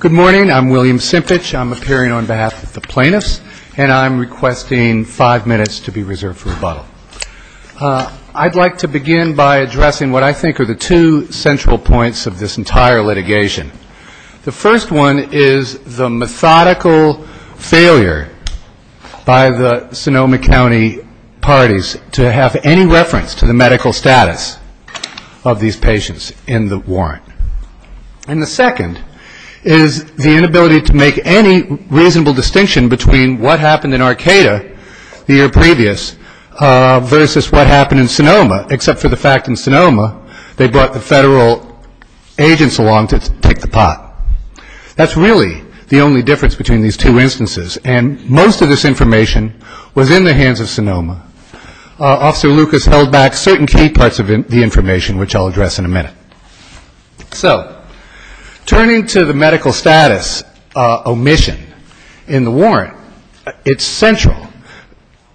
Good morning. I'm William Simpich. I'm appearing on behalf of the plaintiffs, and I'm requesting five minutes to be reserved for rebuttal. I'd like to begin by addressing what I think are the two central points of this entire litigation. The first one is the methodical failure by the Sonoma County parties to have any reference to the medical status of these patients in the warrant. And the second is the inability to make any reasonable distinction between what happened in Arcata the year previous versus what happened in Sonoma, except for the fact in Sonoma they brought the federal agents along to take the pot. That's really the only difference between these two instances, and most of this information was in the hands of Sonoma. Officer Lucas held back certain key parts of the information, which I'll address in a minute. So turning to the medical status omission in the warrant, it's central.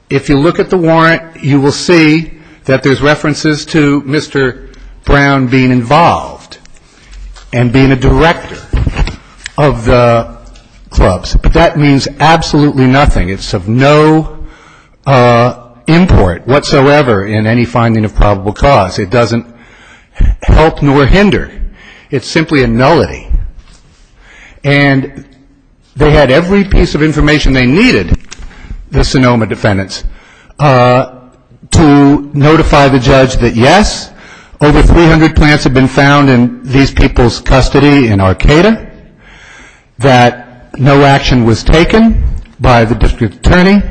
If you look at the warrant, you will see that there's references to Mr. Brown being involved and being a director of the clubs. But that means absolutely nothing. It's of no import whatsoever in any finding of probable cause. It doesn't help nor hinder. It's simply a nullity. And they had every piece of information they needed, the Sonoma defendants, to notify the judge that yes, over 300 plants have been found in these people's custody in Arcata, that no action was taken by the district attorney,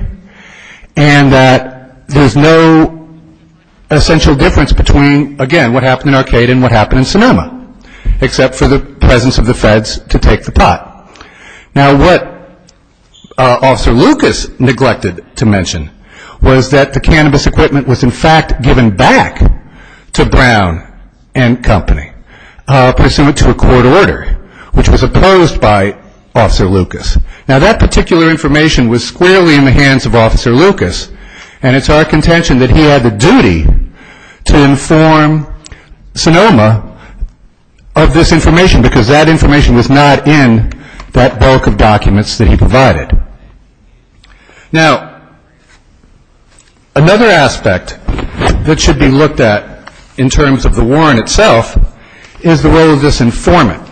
and that there's no essential difference between, again, what happened in Arcata and what happened in Sonoma, except for the presence of the feds to take the pot. Now what Officer Lucas neglected to mention was that the cannabis equipment was in fact given back to Brown and company pursuant to a court order, which was opposed by Officer Lucas. Now that particular information was squarely in the hands of Officer Lucas, and it's our contention that he had the duty to inform Sonoma of this information because that information was not in that bulk of documents that he provided. Now another aspect that should be looked at in terms of the warrant itself is the role of this informant.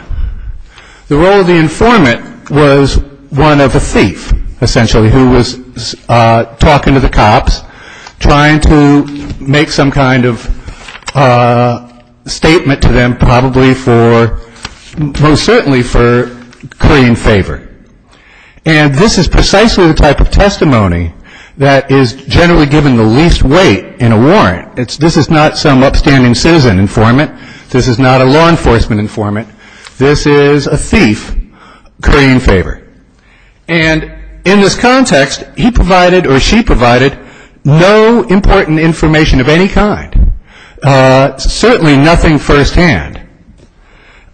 The role of the informant was one of a thief, essentially, who was talking to the cops, trying to make some kind of statement to them, probably for, most certainly for currying favor. And this is precisely the type of testimony that is generally given the least weight in a warrant. This is not some upstanding citizen informant. This is not a law enforcement informant. This is a thief currying favor. And in this context, he provided or she provided no important information of any kind. Certainly nothing firsthand.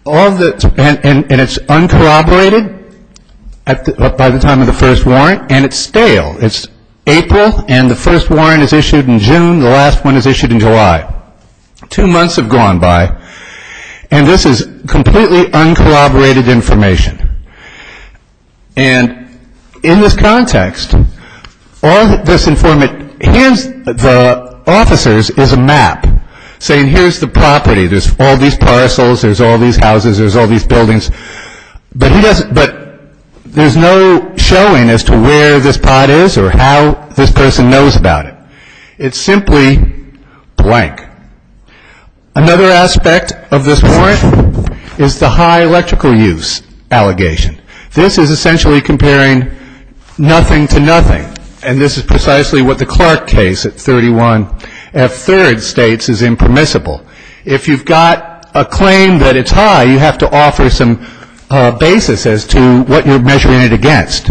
And it's uncorroborated by the time of the first warrant, and it's stale. It's April and the first warrant is issued in June, the last one is issued in And in this context, all this informant hands the officers is a map saying here's the property. There's all these parcels. There's all these houses. There's all these buildings. But there's no showing as to where this pot is or how this person knows about it. It's simply blank. Another aspect of this warrant is the high electrical use allegation. This is essentially comparing nothing to nothing. And this is precisely what the Clark case at 31 F. Third states is impermissible. If you've got a claim that it's high, you have to offer some basis as to what you're measuring it against.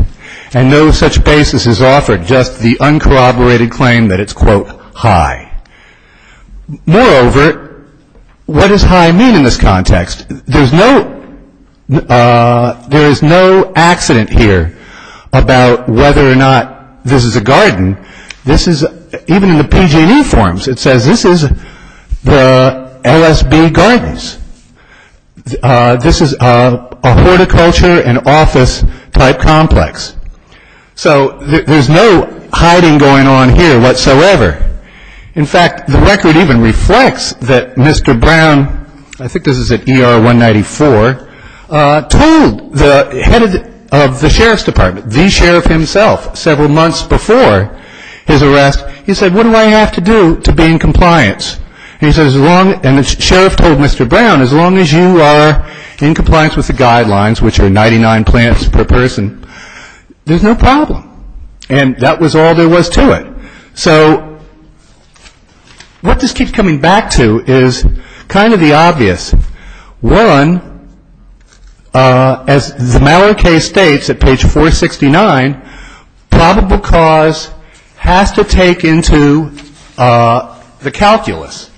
And no such basis is offered, just the uncorroborated claim that it's, quote, high. Moreover, what does high mean in this context? There's no accident here about whether or not this is a garden. This is, even in the PG&E forms, it says this is the LSB gardens. This is a horticulture and office type complex. So there's no hiding going on here whatsoever. In fact, the record even reflects that Mr. Brown, I think this is at ER 194, told the head of the sheriff's department, the sheriff himself, several months before his arrest, he said, what do I have to do to be in compliance? And the sheriff told Mr. Brown, as long as you are in compliance with the guidelines, which are 99 plants per person, there's no problem. And that was all there was to it. So what this keeps coming back to is kind of the obvious. One, as the Mallon case states at page 469, probable cause has to take into the calculus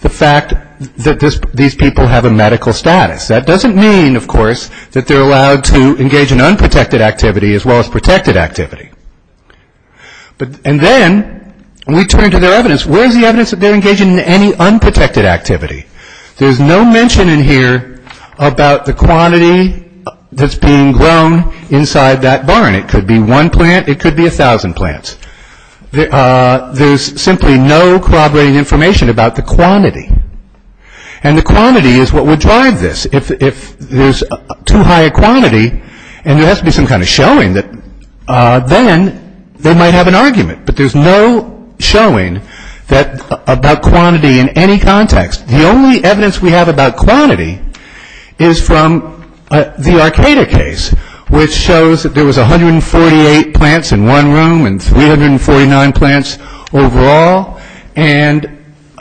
the fact that these people have a medical status. That doesn't mean, of course, that they're allowed to engage in unprotected activity as well as protected activity. And then, when we turn to their evidence, where's the evidence that they're engaging in any unprotected activity? There's no mention in here about the quantity that's being grown inside that barn. It could be one plant, it could be a thousand plants. There's simply no corroborating information about the quantity. And the quantity is what would drive this. If there's too high a quantity and there has to be some kind of showing, then they might have an argument. But there's no showing about quantity in any context. The only evidence we have about quantity is from the Arcata case, which shows that there was 148 plants in one room and 349 plants overall, and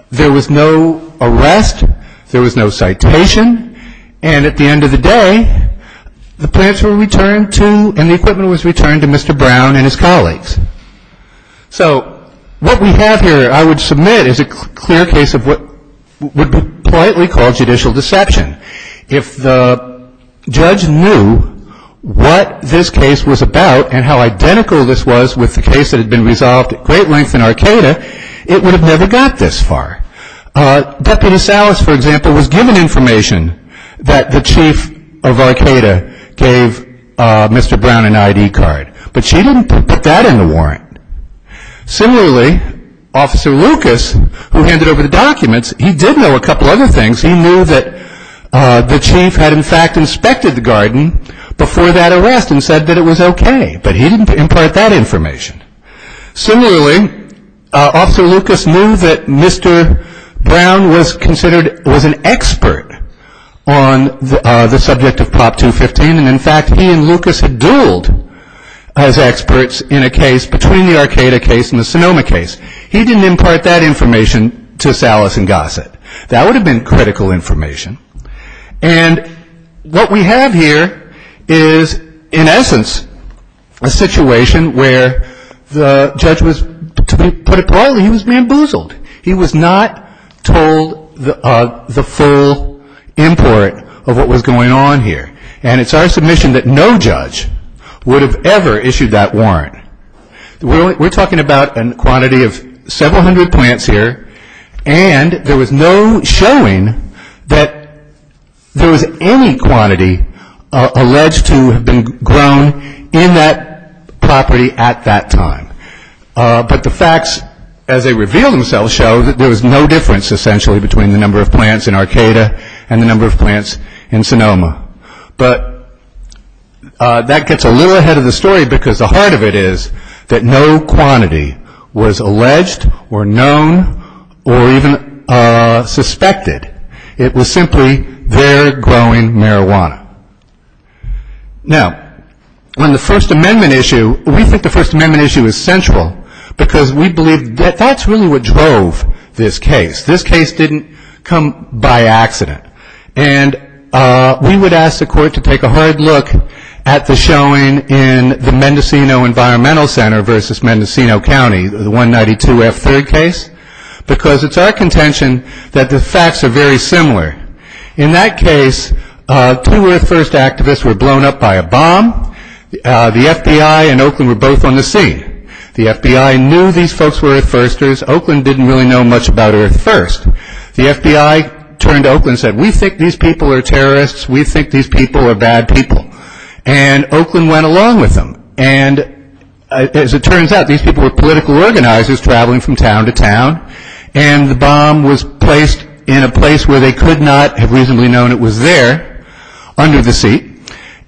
there was no arrest, there was no citation, and at the end of the day, the plants were returned to and the equipment was returned to Mr. Brown and his colleagues. So what we have here, I would submit, is a clear case of what would be politely called judicial deception. If the judge knew what this case was about and how identical this was with the case that had been resolved at great length in Arcata, it would have never got this far. Deputy Salas, for example, was given information that the chief of Arcata gave Mr. Brown an ID card, but she didn't put that in the warrant. Similarly, Officer Lucas, who handed over the documents, he did know a couple other things. He knew that the chief had, in fact, inspected the garden before that arrest and said that it was okay, but he didn't impart that information. Similarly, Officer Lucas knew that Mr. Brown was an expert on the subject of Prop 215, and in fact, he and Lucas had dueled as experts in a case between the Arcata case and the Sonoma case. He didn't impart that information to Salas and Gossett. That would have been critical information, and what we have here is, in essence, a situation where the judge was, to put it politely, he was bamboozled. He was not told the full import of what was going on here, and it's our submission that no judge would have ever issued that warrant. We're talking about a quantity of several plants to have been grown in that property at that time, but the facts, as they reveal themselves, show that there was no difference, essentially, between the number of plants in Arcata and the number of plants in Sonoma, but that gets a little ahead of the story because the heart of it is that no quantity was alleged or known or even suspected. It was simply, they're growing marijuana. Now, on the First Amendment issue, we think the First Amendment issue is central because we believe that that's really what drove this case. This case didn't come by accident, and we would ask the court to take a hard look at the showing in the Mendocino Environmental Center versus Mendocino County, the 192F3 case, because it's our contention that the facts are very similar. In that case, two Earth First activists were blown up by a bomb. The FBI and Oakland were both on the scene. The FBI knew these folks were Earth Firsters. Oakland didn't really know much about Earth First. The FBI turned to Oakland and said, we think these people are terrorists. We think these people are bad people, and Oakland went along with them, and as it turns out, these people were political organizers traveling from town to town, and the bomb was placed in a place where they could not have reasonably known it was there under the seat,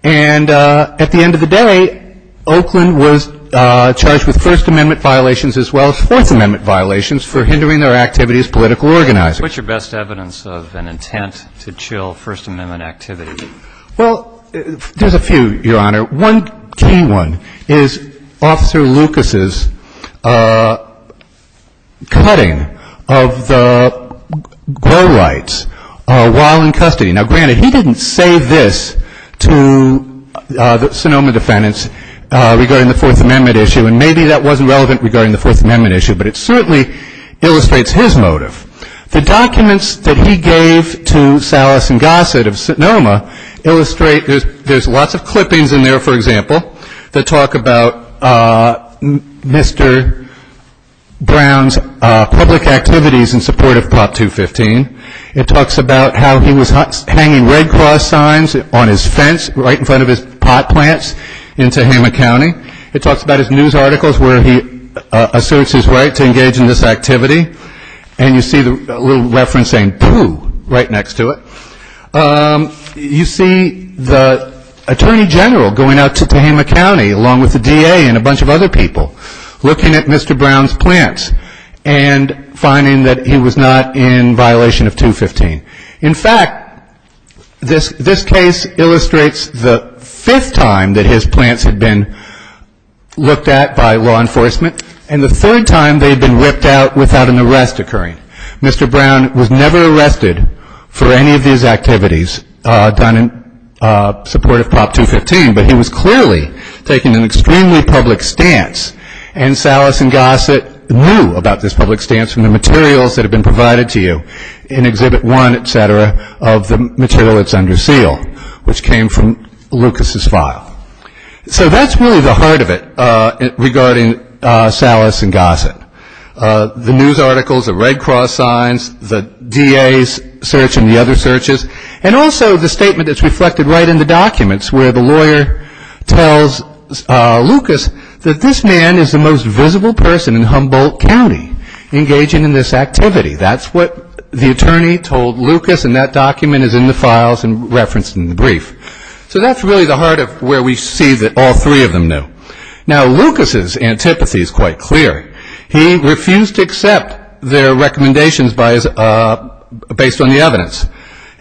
and at the end of the day, Oakland was charged with First Amendment violations as well as Fourth Amendment violations for hindering their activity as political organizers. What's your best evidence of an intent to chill First Amendment activity? Well, there's a few, Your Honor. One key one is Officer Lucas's cutting of the go rights while in custody. Now, granted, he didn't say this to the Sonoma defendants regarding the Fourth Amendment issue, and maybe that wasn't relevant regarding the Fourth Amendment issue, but it certainly illustrates his motive. The documents that he gave to Salas and Gossett of Sonoma illustrate, there's lots of clippings in there, for example, that talk about Mr. Brown's public activities in support of Prop 215. It talks about how he was hanging Red Cross signs on his fence right in front of his pot plants in Tehama County. It talks about his news articles where he asserts his right to engage in this activity, and you see a little reference saying, poo, right next to it. You see the Attorney General going out to Tehama County, along with the DA and a bunch of other people, looking at Mr. Brown's plants and finding that he was not in violation of 215. In fact, this case illustrates the fifth time that his plants had been looked at by law enforcement, and the third time they'd been ripped out without an arrest occurring. Mr. Brown was never arrested for any of these activities done in support of Prop 215, but he was clearly taking an extremely public stance, and Salas and Gossett knew about this public stance from the materials that had been provided to you in Exhibit 1, etc., of the material that's under seal, which came from Lucas's file. So that's really the heart of it regarding Salas and Gossett. The news articles, the Red Cross signs, the DA's search and the other searches, and also the statement that's reflected right in the documents where the lawyer tells Lucas that this man is the most visible person in Humboldt County engaging in this activity. That's what the attorney told Lucas, and that document is in the files and referenced in the brief. So that's really the heart of where we see that all three of them knew. Now, Lucas's antipathy is quite clear. He refused to accept their recommendations based on the evidence.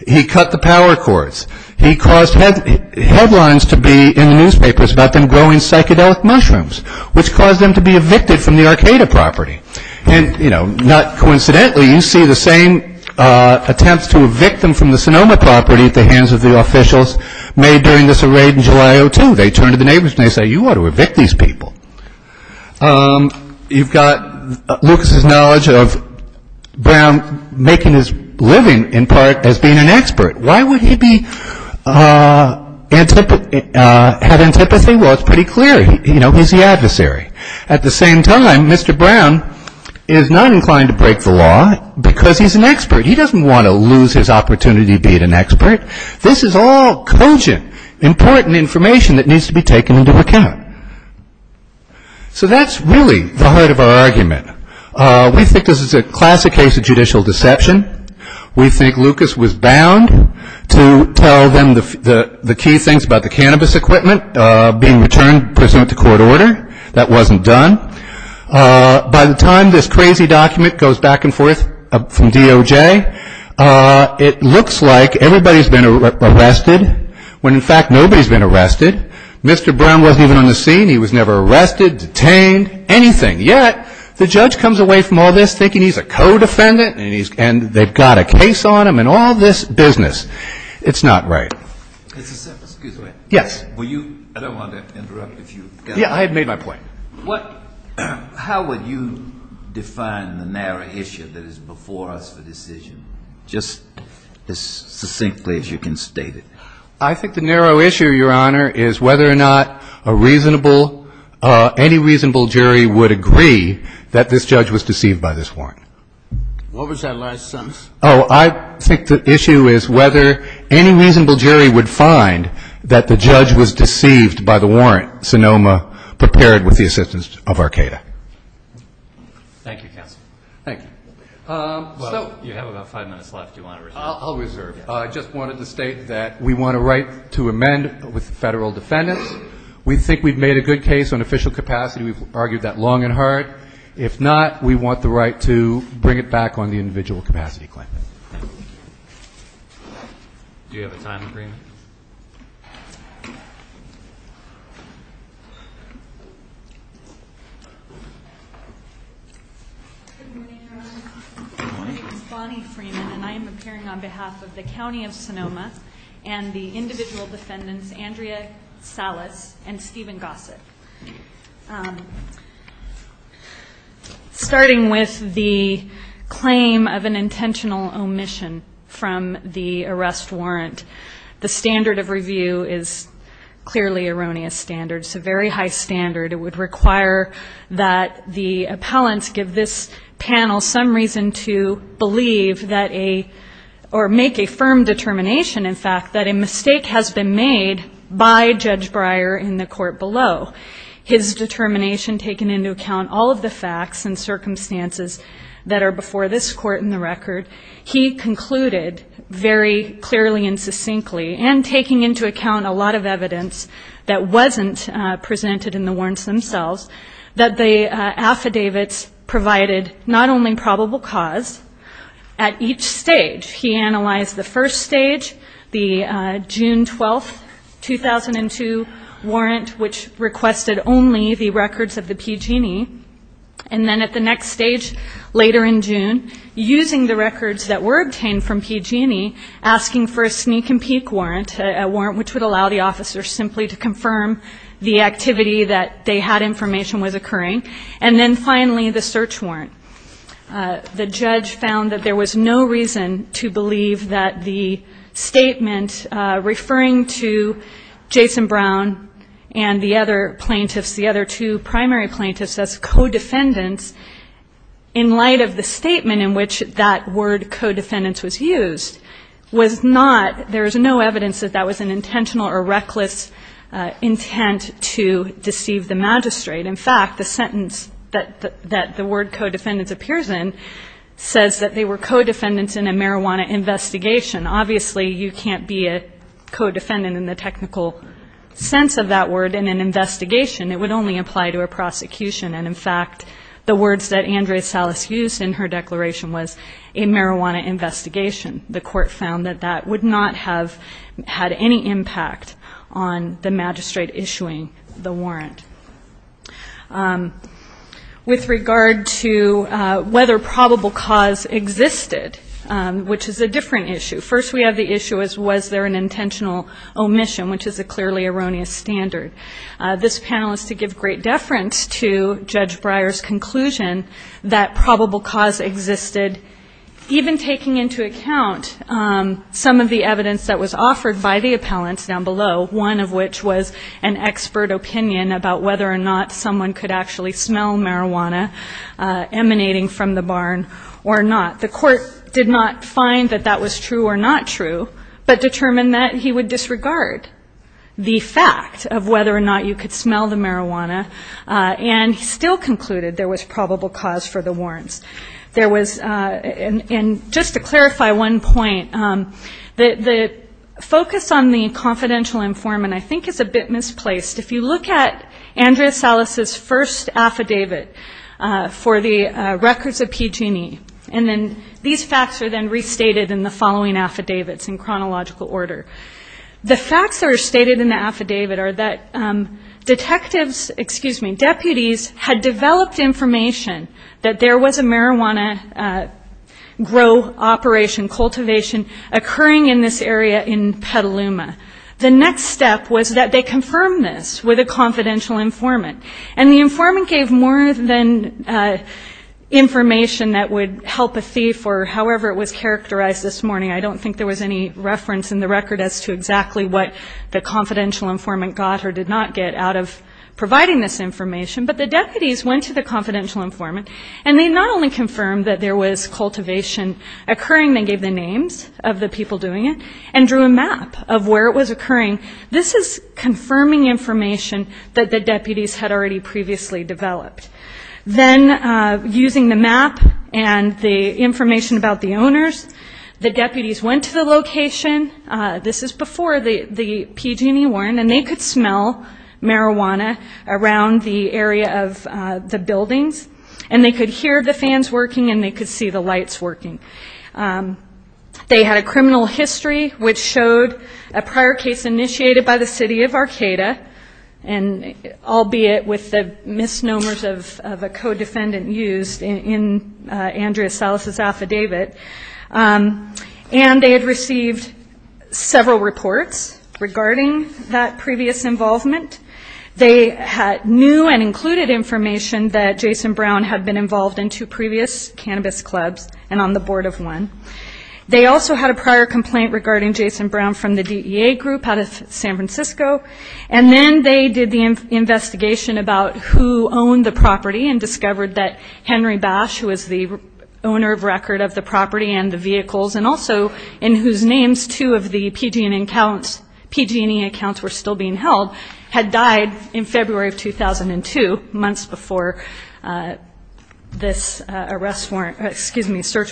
He cut the power cords. He caused headlines to be in the newspapers about them growing psychedelic mushrooms, which caused them to be evicted from the Arcata property. And, you know, not coincidentally, you see the same attempts to evict them from the Sonoma property at the hands of the officials made during this raid in July of 2002. They turn to the neighbors and they say, you ought to evict these people. You've got Lucas's knowledge of Brown making his living in part as being an expert. Why would he have antipathy? Well, it's pretty clear, you know, he's the adversary. At the same time, Mr. Brown is not inclined to break the law because he's an expert. He doesn't want to lose his opportunity to be an expert. This is all cogent, important information that needs to be taken into account. So that's really the heart of our argument. We think this is a classic case of judicial deception. We think Lucas was bound to tell them the key things about the cannabis equipment being returned pursuant to court order. That wasn't done. By the time this crazy document goes back and forth from DOJ, it looks like everybody's been arrested when, in fact, nobody's been arrested. Mr. Brown wasn't even on the scene. He was never arrested, detained, anything. Yet, the judge comes away from all this thinking he's a co-defendant and they've got a case on him and all this business. It's not right. Excuse me. Yes. I don't want to interrupt if you've got to. Yeah, I had made my point. How would you define the narrow issue that is before us for decision, just as succinctly as you can state it? I think the narrow issue, Your Honor, is whether or not a reasonable, any reasonable jury would agree that this judge was deceived by this warrant. What was that last sentence? Oh, I think the issue is whether any reasonable jury would find that the judge was deceived by the warrant Sonoma prepared with the assistance of Arcata. Thank you, counsel. Thank you. Well, you have about five minutes left. Do you want to reserve? I'll reserve. I just wanted to state that we want a right to amend with federal defendants. We think we've made a good case on official capacity. We've argued that long and hard. If not, we want the right to bring it back on the individual capacity claimant. Thank you. Do you have a time agreement? Good morning, Your Honor. My name is Bonnie Freeman, and I am appearing on behalf of the Starting with the claim of an intentional omission from the arrest warrant. The standard of review is clearly erroneous standards, a very high standard. It would require that the appellants give this panel some reason to believe that a, or make a firm determination, in fact, that a mistake has been made by Judge Breyer in the court below. His determination, taking into account all of the facts and circumstances that are before this court in the record, he concluded very clearly and succinctly, and taking into account a lot of evidence that wasn't presented in the warrants themselves, that the affidavits provided not only probable cause. At each stage, he analyzed the first stage, the June 12, 2002 warrant, which requested only the records of the PG&E. And then at the next stage, later in June, using the records that were obtained from PG&E, asking for a sneak and peek warrant, a warrant which would allow the officer simply to confirm the activity that they had information was occurring. And then finally, the search warrant. The judge found that there was no reason to believe that the statement referring to Jason Brown and the other plaintiffs, the other two primary plaintiffs as co-defendants, in light of the statement in which that word co-defendants was used, was not, there is no evidence that that was an intentional or reckless intent to deceive the magistrate. In fact, the sentence that the word co-defendants appears in says that they were co-defendants in a marijuana investigation. Obviously, you can't be a co-defendant in the technical sense of that word in an investigation. It would only apply to a prosecution. And in fact, the words that Andrea Salas used in her declaration was a marijuana investigation. The court found that that would not have had any impact on the magistrate issuing the warrant. With regard to whether probable cause existed, which is a different issue. First, we have the issue as was there an intentional omission, which is a clearly erroneous standard. This panel is to give great deference to Judge Breyer's conclusion that probable cause existed, even taking into account some of the evidence that was offered by the appellants down below, one of which was an expert opinion about whether or not someone could actually smell marijuana emanating from the barn or not. The court did not find that that was true or not true, but determined that he would disregard the fact of whether or not you could smell the marijuana. And just to clarify one point, the focus on the confidential informant, I think, is a bit misplaced. If you look at Andrea Salas' first affidavit for the records of PG&E, and then these facts are then restated in the following affidavits in chronological order. The facts that are stated in the affidavit are that detectives, excuse me, deputies had developed information that there was a marijuana grow operation, cultivation occurring in this area in Petaluma. The next step was that they confirmed this with a confidential informant. And the informant gave more than information that would help a thief or however it was characterized this morning. I don't think there was any reference in the record as to exactly what the confidential informant got or did not get out of providing this information. But the deputies went to the confidential informant, and they not only confirmed that there was cultivation occurring, they gave the names of the people doing it, and drew a map of where it was occurring. This is confirming information that the deputies had already previously developed. Then using the map and the information about the owners, the deputies went to the location. This is before the PG&E warrant, and they could smell marijuana around the area of the buildings. And they could hear the fans working, and they could see the lights working. They had a criminal history which showed a prior case initiated by the city of Arcata, albeit with the misnomers of a co-defendant used in Andrea Salas' affidavit. And they had received several reports regarding that previous involvement. They had new and included information that Jason Brown had been involved in two previous cannabis clubs and on the board of one. They also had a prior complaint regarding Jason Brown from the DEA group out of San Francisco. And then they did the investigation about who owned the property and discovered that Henry Bash, who was the owner of record of the property and the vehicles, and also in whose names two of the PG&E accounts were still being held, had died in February of 2002, months before this search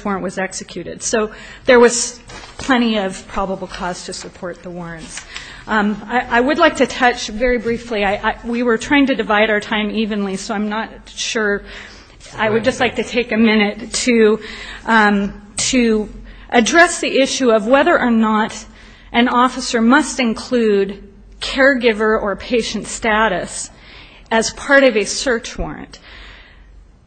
warrant was executed. So there was plenty of probable cause to support the warrants. I would like to touch very briefly. We were trying to divide our time evenly, so I'm not sure. I would just like to take a minute to address the issue of whether or not an officer must include caregiver or patient status as part of a search warrant.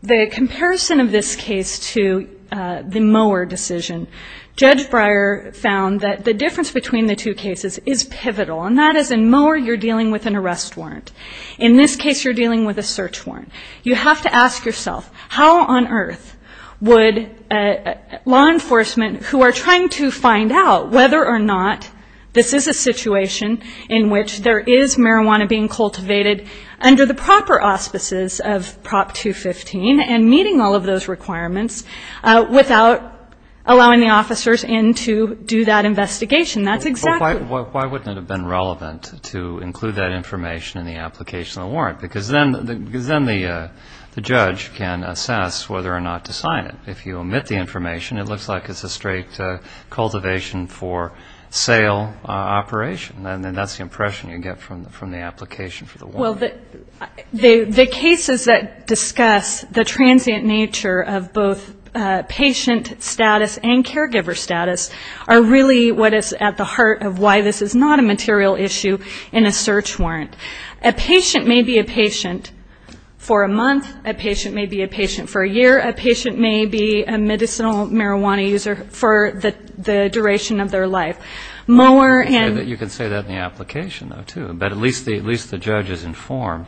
The comparison of this case to the Mower decision, Judge Breyer found that the difference between the two cases is pivotal. And that is in Mower you're dealing with an arrest warrant. In this case you're dealing with a search warrant. You have to ask yourself, how on earth would law enforcement, who are trying to find out whether or not this is a situation in which there is marijuana being cultivated under the proper auspices of Prop 215 and meeting all of those requirements, without allowing the officers in to do that investigation? That's exactly why. Why wouldn't it have been relevant to include that information in the application of the warrant? Because then the judge can assess whether or not to sign it. If you omit the information, it looks like it's a straight cultivation for sale operation. And that's the impression you get from the application for the warrant. The cases that discuss the transient nature of both patient status and caregiver status are really what is at the heart of why this is not a material issue in a search warrant. A patient may be a patient for a month. A patient may be a patient for a year. A patient may be a medicinal marijuana user for the duration of their life. Mower and the application of the warrant. I'm sure you can say that in the application, too. But at least the judge is informed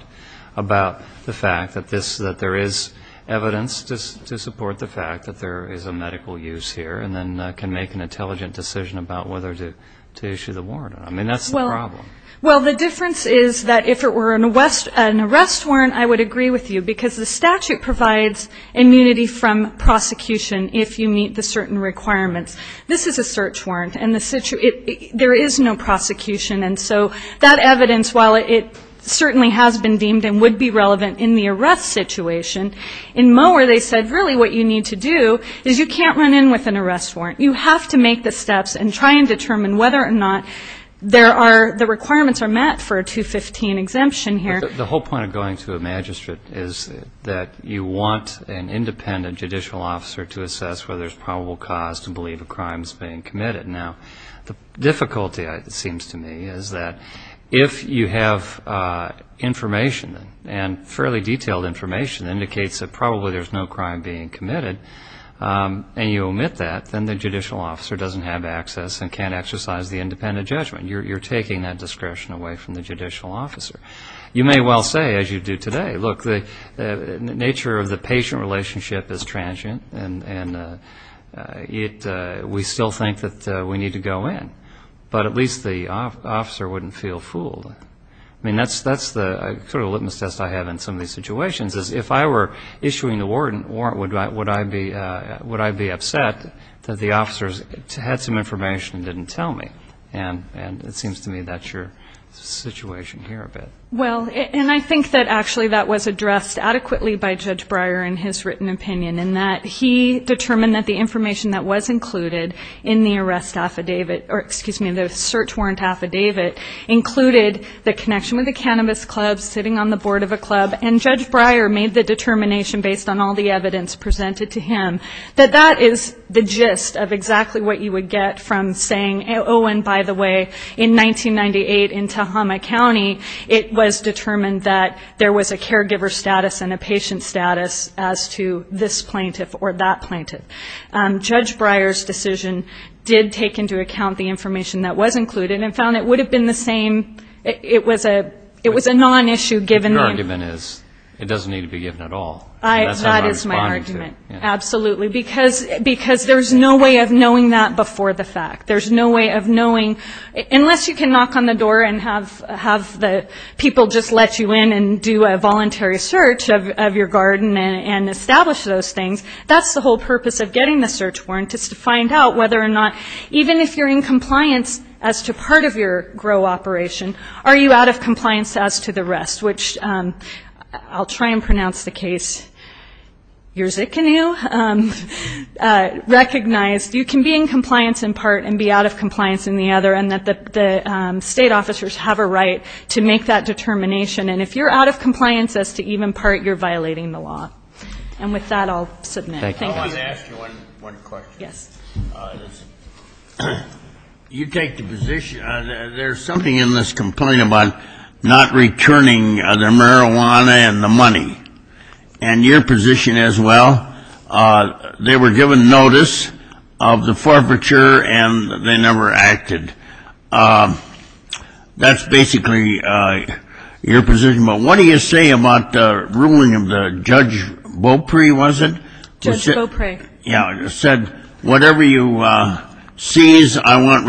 about the fact that there is evidence to support the fact that there is a medical use here and then can make an intelligent decision about whether to issue the warrant. I mean, that's the problem. Well, the difference is that if it were an arrest warrant, I would agree with you. Because the statute provides immunity from prosecution if you meet the certain requirements. This is a search warrant. And there is no prosecution. And so that evidence, while it certainly has been deemed and would be relevant in the arrest situation, in Mower they said really what you need to do is you can't run in with an arrest warrant. You have to make the steps and try and determine whether or not there are the requirements are met for a 215 exemption here. The whole point of going to a magistrate is that you want an independent judicial officer to assess whether there is probable cause to believe a crime is being committed. Now, the difficulty, it seems to me, is that if you have information and fairly detailed information indicates that probably there is no crime being committed and you omit that, then the judicial officer doesn't have access and can't exercise the independent judgment. You're taking that discretion away from the judicial officer. You may well say, as you do today, look, the nature of the patient relationship is transient and we still think that we need to go in. But at least the officer wouldn't feel fooled. I mean, that's the sort of litmus test I have in some of these situations is if I were issuing the warrant, would I be upset that the officers had some information and didn't tell me? And it seems to me that's your situation here a bit. Well, and I think that actually that was addressed adequately by Judge Breyer in his written opinion in that he determined that the information that was included in the arrest affidavit or, excuse me, the search warrant affidavit included the connection with a cannabis club sitting on the board of a club. And Judge Breyer made the determination based on all the evidence presented to him that that is the gist of exactly what you would get from saying, oh, and by the way, in 1998 in Tahoma County, it was determined that there was a caregiver status and a patient status as to this plaintiff or that plaintiff. Judge Breyer's decision did take into account the information that was included and found it would have been the same. It was a non-issue given that... But your argument is it doesn't need to be given at all. That is my argument. Absolutely. Because there's no way of knowing that before the fact. There's no way of knowing unless you can knock on the door and have the people just let you in and do a voluntary search of your garden and establish those things. That's the whole purpose of getting the search warrant, is to find out whether or not, even if you're in compliance as to part of your GROW operation, are you out of compliance as to the rest, which I'll try and pronounce the case, you're Zikinu, recognized you can be in compliance in part and be out of compliance in the other and that the state officers have a right to make that determination. And if you're out of compliance as to even part, you're violating the law. And with that, I'll submit. Thank you. I want to ask you one question. Yes. You take the position, there's something in this complaint about not returning the marijuana and the money and your position as well. They were given notice of the forfeiture and they never acted. That's basically your position. But what do you say about the ruling of the Judge Bopre, was it? Judge Bopre. Yeah. It said, whatever you seize, I want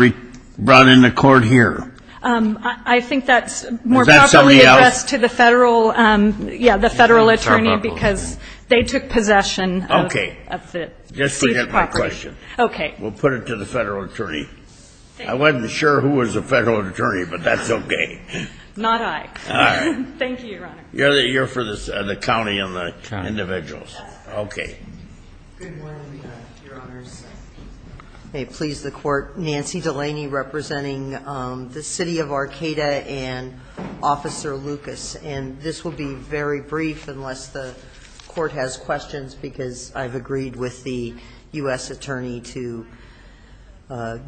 brought into court here. I think that's more probably addressed to the federal attorney because they took possession of the seized property. Okay. Just forget my question. Okay. We'll put it to the federal attorney. I wasn't sure who was a federal attorney, but that's okay. Not I. All right. Thank you, Your Honor. You're for the county and the individuals. Okay. Good morning, Your Honors. May it please the court, Nancy Delaney representing the City of Arcata and Officer Lucas. And this will be very brief unless the court has questions because I've agreed with the U.S. attorney to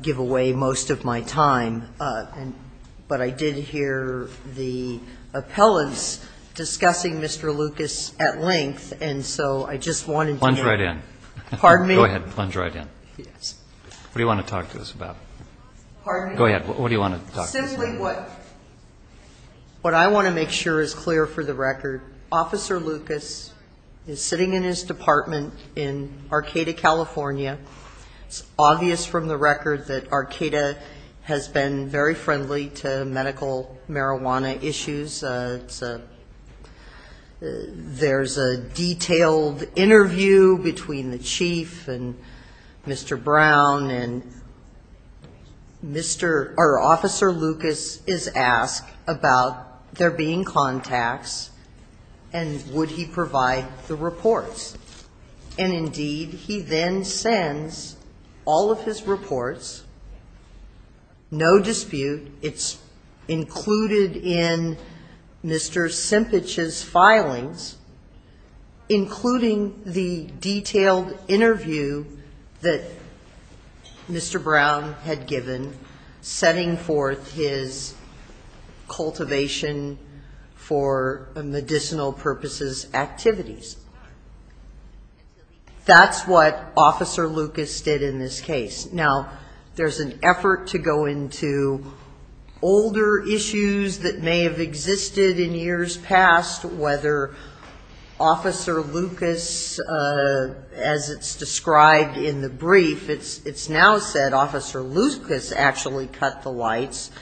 give away most of my time. But I did hear the appellants discussing Mr. Lucas at length, and so I just wanted to get- Plunge right in. Pardon me? Go ahead. Plunge right in. Yes. What do you want to talk to us about? Pardon me? Go ahead. What do you want to talk to us about? Simply what I want to make sure is clear for the record, Officer Lucas is sitting in his apartment in Arcata, California. It's obvious from the record that Arcata has been very friendly to medical marijuana issues. There's a detailed interview between the chief and Mr. Brown, and Officer Lucas is asked about there being contacts, and would he provide the reports. And indeed, he then sends all of his reports, no dispute, it's included in Mr. Simpich's filings, including the detailed interview that Mr. Brown had given setting forth his cultivation for medicinal purposes activities. That's what Officer Lucas did in this case. Now, there's an effort to go into older issues that may have existed in years past, whether Officer Lucas, as it's described in the brief, it's now said Officer Lucas actually cut the lights.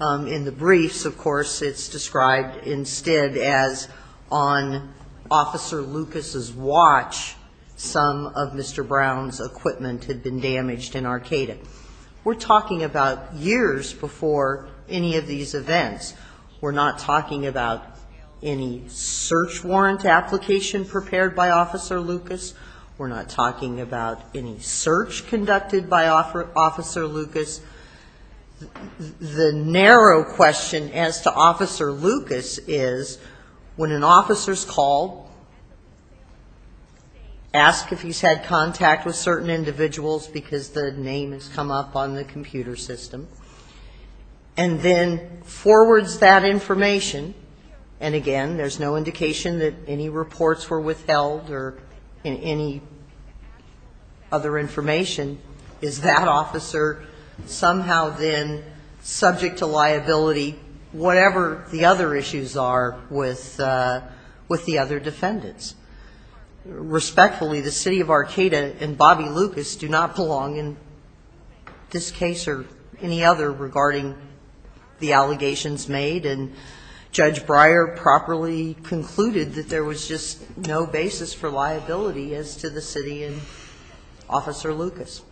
In the briefs, of course, it's described instead as on Officer Lucas' watch, some of Mr. Brown's equipment had been damaged in Arcata. We're talking about years before any of these events. We're not talking about any search warrant application prepared by Officer Lucas. We're not talking about any search conducted by Officer Lucas. The narrow question as to Officer Lucas is, when an officer's called, ask if he's had contact with certain individuals, because the name has come up on the computer system, and then forwards that information, and again, there's no indication that any reports were withheld or any other information. Is that officer somehow then subject to liability, whatever the other issues are with the other defendants? Respectfully, the City of Arcata and Bobby Lucas do not belong in this case or any other regarding the allegations made, and Judge Breyer properly concluded that there was just no basis for liability as to the City and Officer Lucas.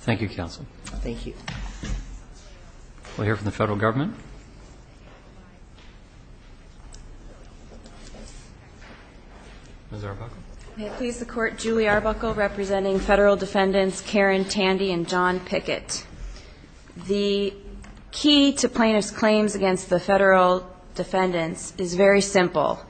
Thank you, Counsel. Thank you. We'll hear from the Federal Government. Ms. Arbuckle. May it please the Court, Julie Arbuckle representing Federal Defendants Karen Tandy and John Pickett. The key to plaintiff's claims against the Federal Defendants is very simple.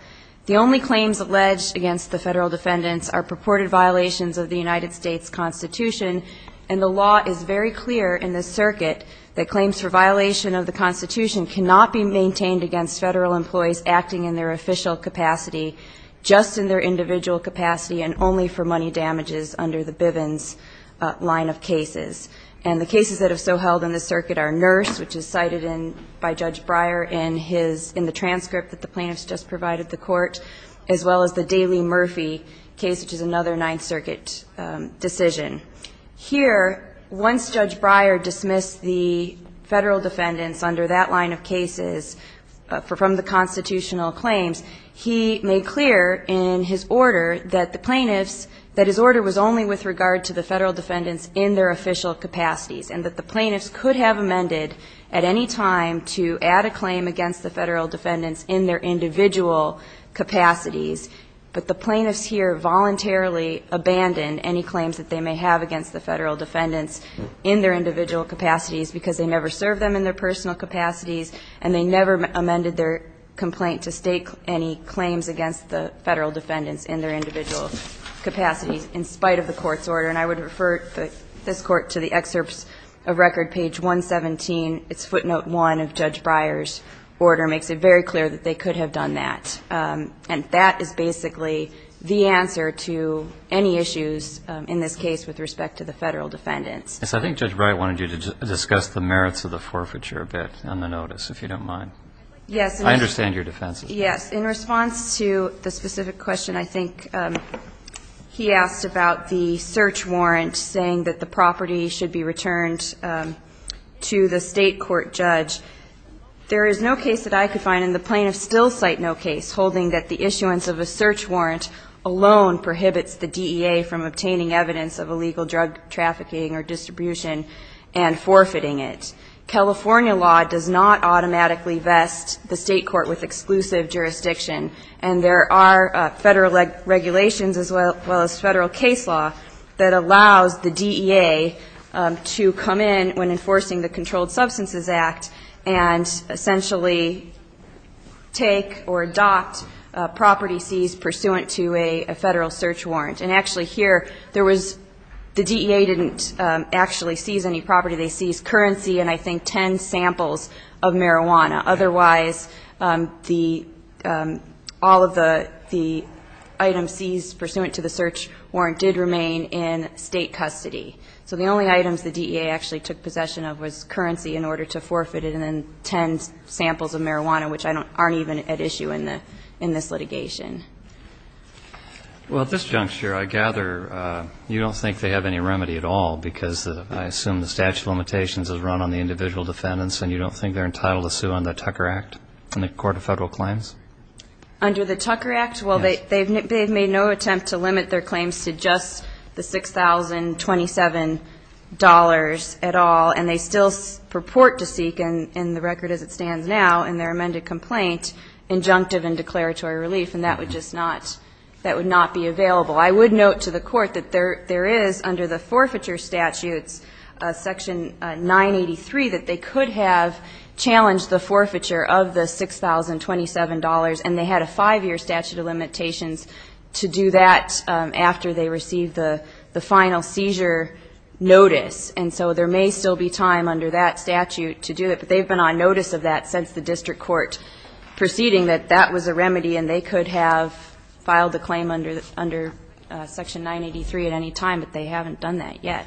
The only claims alleged against the Federal Defendants are purported violations of the United States Constitution, and the law is very clear in this circuit that claims for violation of the Constitution cannot be maintained against Federal employees acting in their official capacity, just in their individual capacity, and only for money damages under the Bivens line of cases. And the cases that have so held in this circuit are Nurse, which is cited in by Judge Breyer in his, in the transcript that the plaintiffs just provided the Court, as well as the Daly Murphy case, which is another Ninth Circuit decision. Here, once Judge Breyer dismissed the Federal Defendants under that line of cases from the constitutional claims, he made clear in his order that the plaintiffs, that his order was only with regard to the Federal Defendants in their official capacity. And that the plaintiffs could have amended, at any time, to add a claim against the Federal Defendants in their individual capacities, but the plaintiffs here voluntarily abandoned any claims that they may have against the Federal Defendants in their individual capacities, because they never served them in their personal capacities, and they never amended their complaint to state any claims against the Federal Defendants in their individual capacities, in spite of the Court's order. And I would refer this Court to the excerpts of record, page 117. It's footnote one of Judge Breyer's order. Makes it very clear that they could have done that. And that is basically the answer to any issues in this case with respect to the Federal Defendants. Yes, I think Judge Breyer wanted you to discuss the merits of the forfeiture a bit on the notice, if you don't mind. Yes. I understand your defenses. Yes. In response to the specific question, I think he asked about the search warrant saying that the property should be returned to the state court judge. There is no case that I could find, and the plaintiffs still cite no case, holding that the issuance of a search warrant alone prohibits the DEA from obtaining evidence of illegal drug trafficking or distribution and forfeiting it. California law does not automatically vest the state court with exclusive jurisdiction. And there are Federal regulations, as well as Federal case law, that allows the DEA to come in when enforcing the Controlled Substances Act and essentially take or adopt property seized pursuant to a Federal search warrant. And actually here, there was, the DEA didn't actually seize any property, they seized currency and I think 10 samples of marijuana. Otherwise, the, all of the items seized pursuant to the search warrant did remain in state custody. So the only items the DEA actually took possession of was currency in order to forfeit it and then 10 samples of marijuana, which aren't even at issue in the, in this litigation. Well, at this juncture, I gather you don't think they have any remedy at all because I assume the statute of limitations is run on the individual defendants and you don't think they're entitled to sue under the Tucker Act in the Court of Federal Claims? Under the Tucker Act? Yes. Well, they've made no attempt to limit their claims to just the $6,027 at all and they still purport to seek in the record as it stands now in their amended complaint injunctive and declaratory relief and that would just not, that would not be available. I would note to the court that there is, under the forfeiture statutes, Section 983, that they could have challenged the forfeiture of the $6,027 and they had a five-year statute of limitations to do that after they received the final seizure notice. And so there may still be time under that statute to do it, but they've been on notice of that since the district court proceeding that that was a remedy and they could have filed a claim under Section 983 at any time, but they haven't done that yet.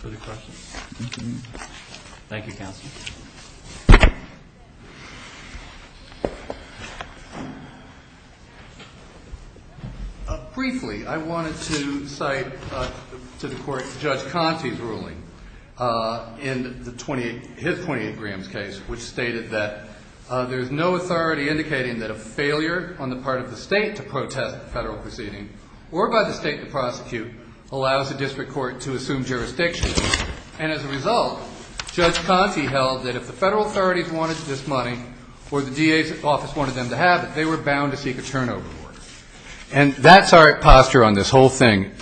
Further questions? Thank you, counsel. Briefly, I wanted to cite to the court Judge Conte's ruling in his 28 grams case which stated that there's no authority indicating that a failure on the part of the state to protest the federal proceeding or by the state to prosecute allows the district court to assume jurisdiction. And as a result, Judge Conte held that if the federal authorities wanted this money or the DA's office wanted them to have it, they were bound to seek a turnover. And that's our posture on this whole thing,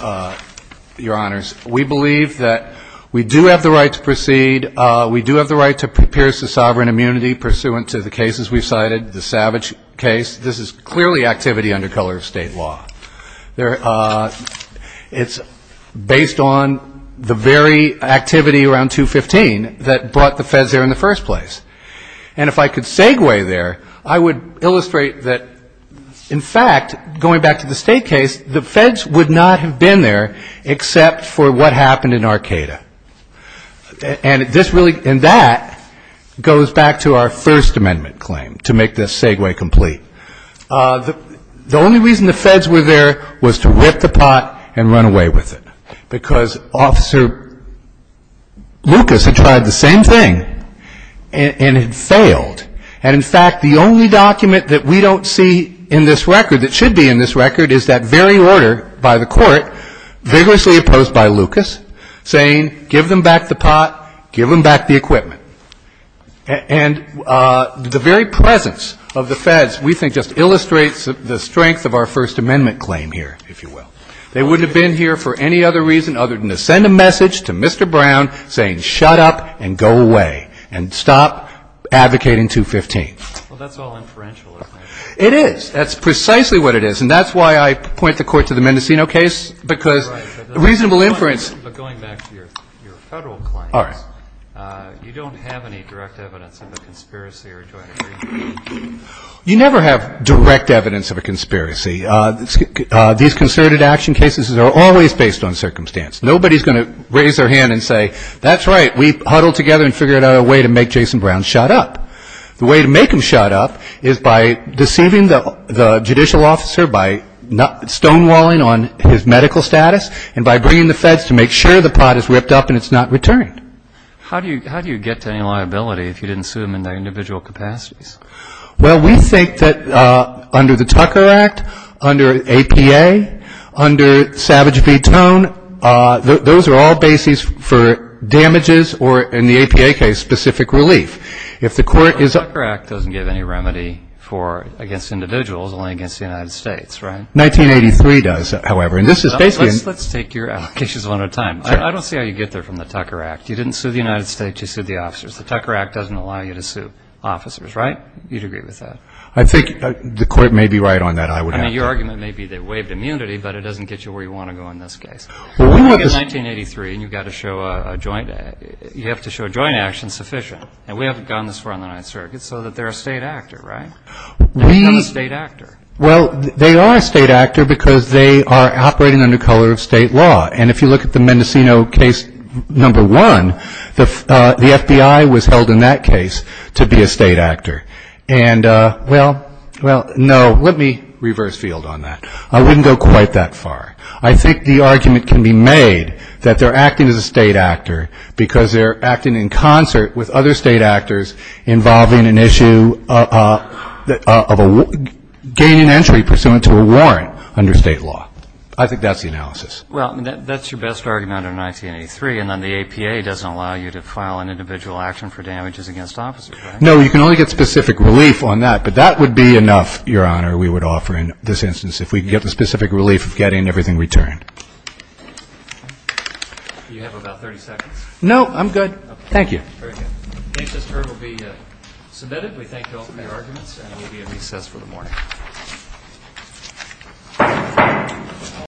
Your Honors. We believe that we do have the right to proceed. We do have the right to pierce the sovereign immunity pursuant to the cases we've cited, the Savage case. This is clearly activity under color of state law. It's based on the very activity around 215 that brought the feds there in the first place. And if I could segue there, I would illustrate that, in fact, going back to the state case, the feds would not have been there except for what happened in Arcata. And that goes back to our First Amendment claim, to make this segue complete. The only reason the feds were there was to rip the pot and run away with it. Because Officer Lucas had tried the same thing and had failed. And in fact, the only document that we don't see in this record that should be in this give them back the pot, give them back the equipment. And the very presence of the feds, we think, just illustrates the strength of our First Amendment claim here, if you will. They wouldn't have been here for any other reason other than to send a message to Mr. Brown saying, shut up and go away, and stop advocating 215. Well, that's all inferential, isn't it? It is. That's precisely what it is. And that's why I point the court to the Mendocino case, because reasonable inference But going back to your federal claims, you don't have any direct evidence of a conspiracy or do I agree? You never have direct evidence of a conspiracy. These concerted action cases are always based on circumstance. Nobody's going to raise their hand and say, that's right, we huddled together and figured out a way to make Jason Brown shut up. The way to make him shut up is by deceiving the judicial officer, by stonewalling on his medical status, and by bringing the feds to make sure the pot is ripped up and it's not returned. How do you get to any liability if you didn't sue them in their individual capacities? Well, we think that under the Tucker Act, under APA, under Savage v. Tone, those are all bases for damages or, in the APA case, specific relief. If the court is- The Tucker Act doesn't give any remedy against individuals, only against the United States, right? 1983 does, however. Let's take your applications one at a time. I don't see how you get there from the Tucker Act. You didn't sue the United States, you sued the officers. The Tucker Act doesn't allow you to sue officers, right? You'd agree with that? I think the court may be right on that, I would have to. I mean, your argument may be that waived immunity, but it doesn't get you where you want to go in this case. Well, we want this- 1983, and you've got to show a joint, you have to show joint action sufficient. And we haven't gotten this far on the Ninth Circuit, so that they're a state actor, right? They're not a state actor. Well, they are a state actor because they are operating under color of state law. And if you look at the Mendocino case number one, the FBI was held in that case to be a state actor. And, well, no, let me reverse field on that. I wouldn't go quite that far. I think the argument can be made that they're acting as a state actor because they're acting in concert with other state actors involving an issue of gaining entry pursuant to a warrant under state law. I think that's the analysis. Well, that's your best argument under 1983. And then the APA doesn't allow you to file an individual action for damages against officers, right? No, you can only get specific relief on that. But that would be enough, Your Honor, we would offer in this instance if we could get the specific relief of getting everything returned. Do you have about 30 seconds? No, I'm good. Thank you. Very good. Case is heard will be submitted. We thank you all for your arguments and we'll be in recess for the morning.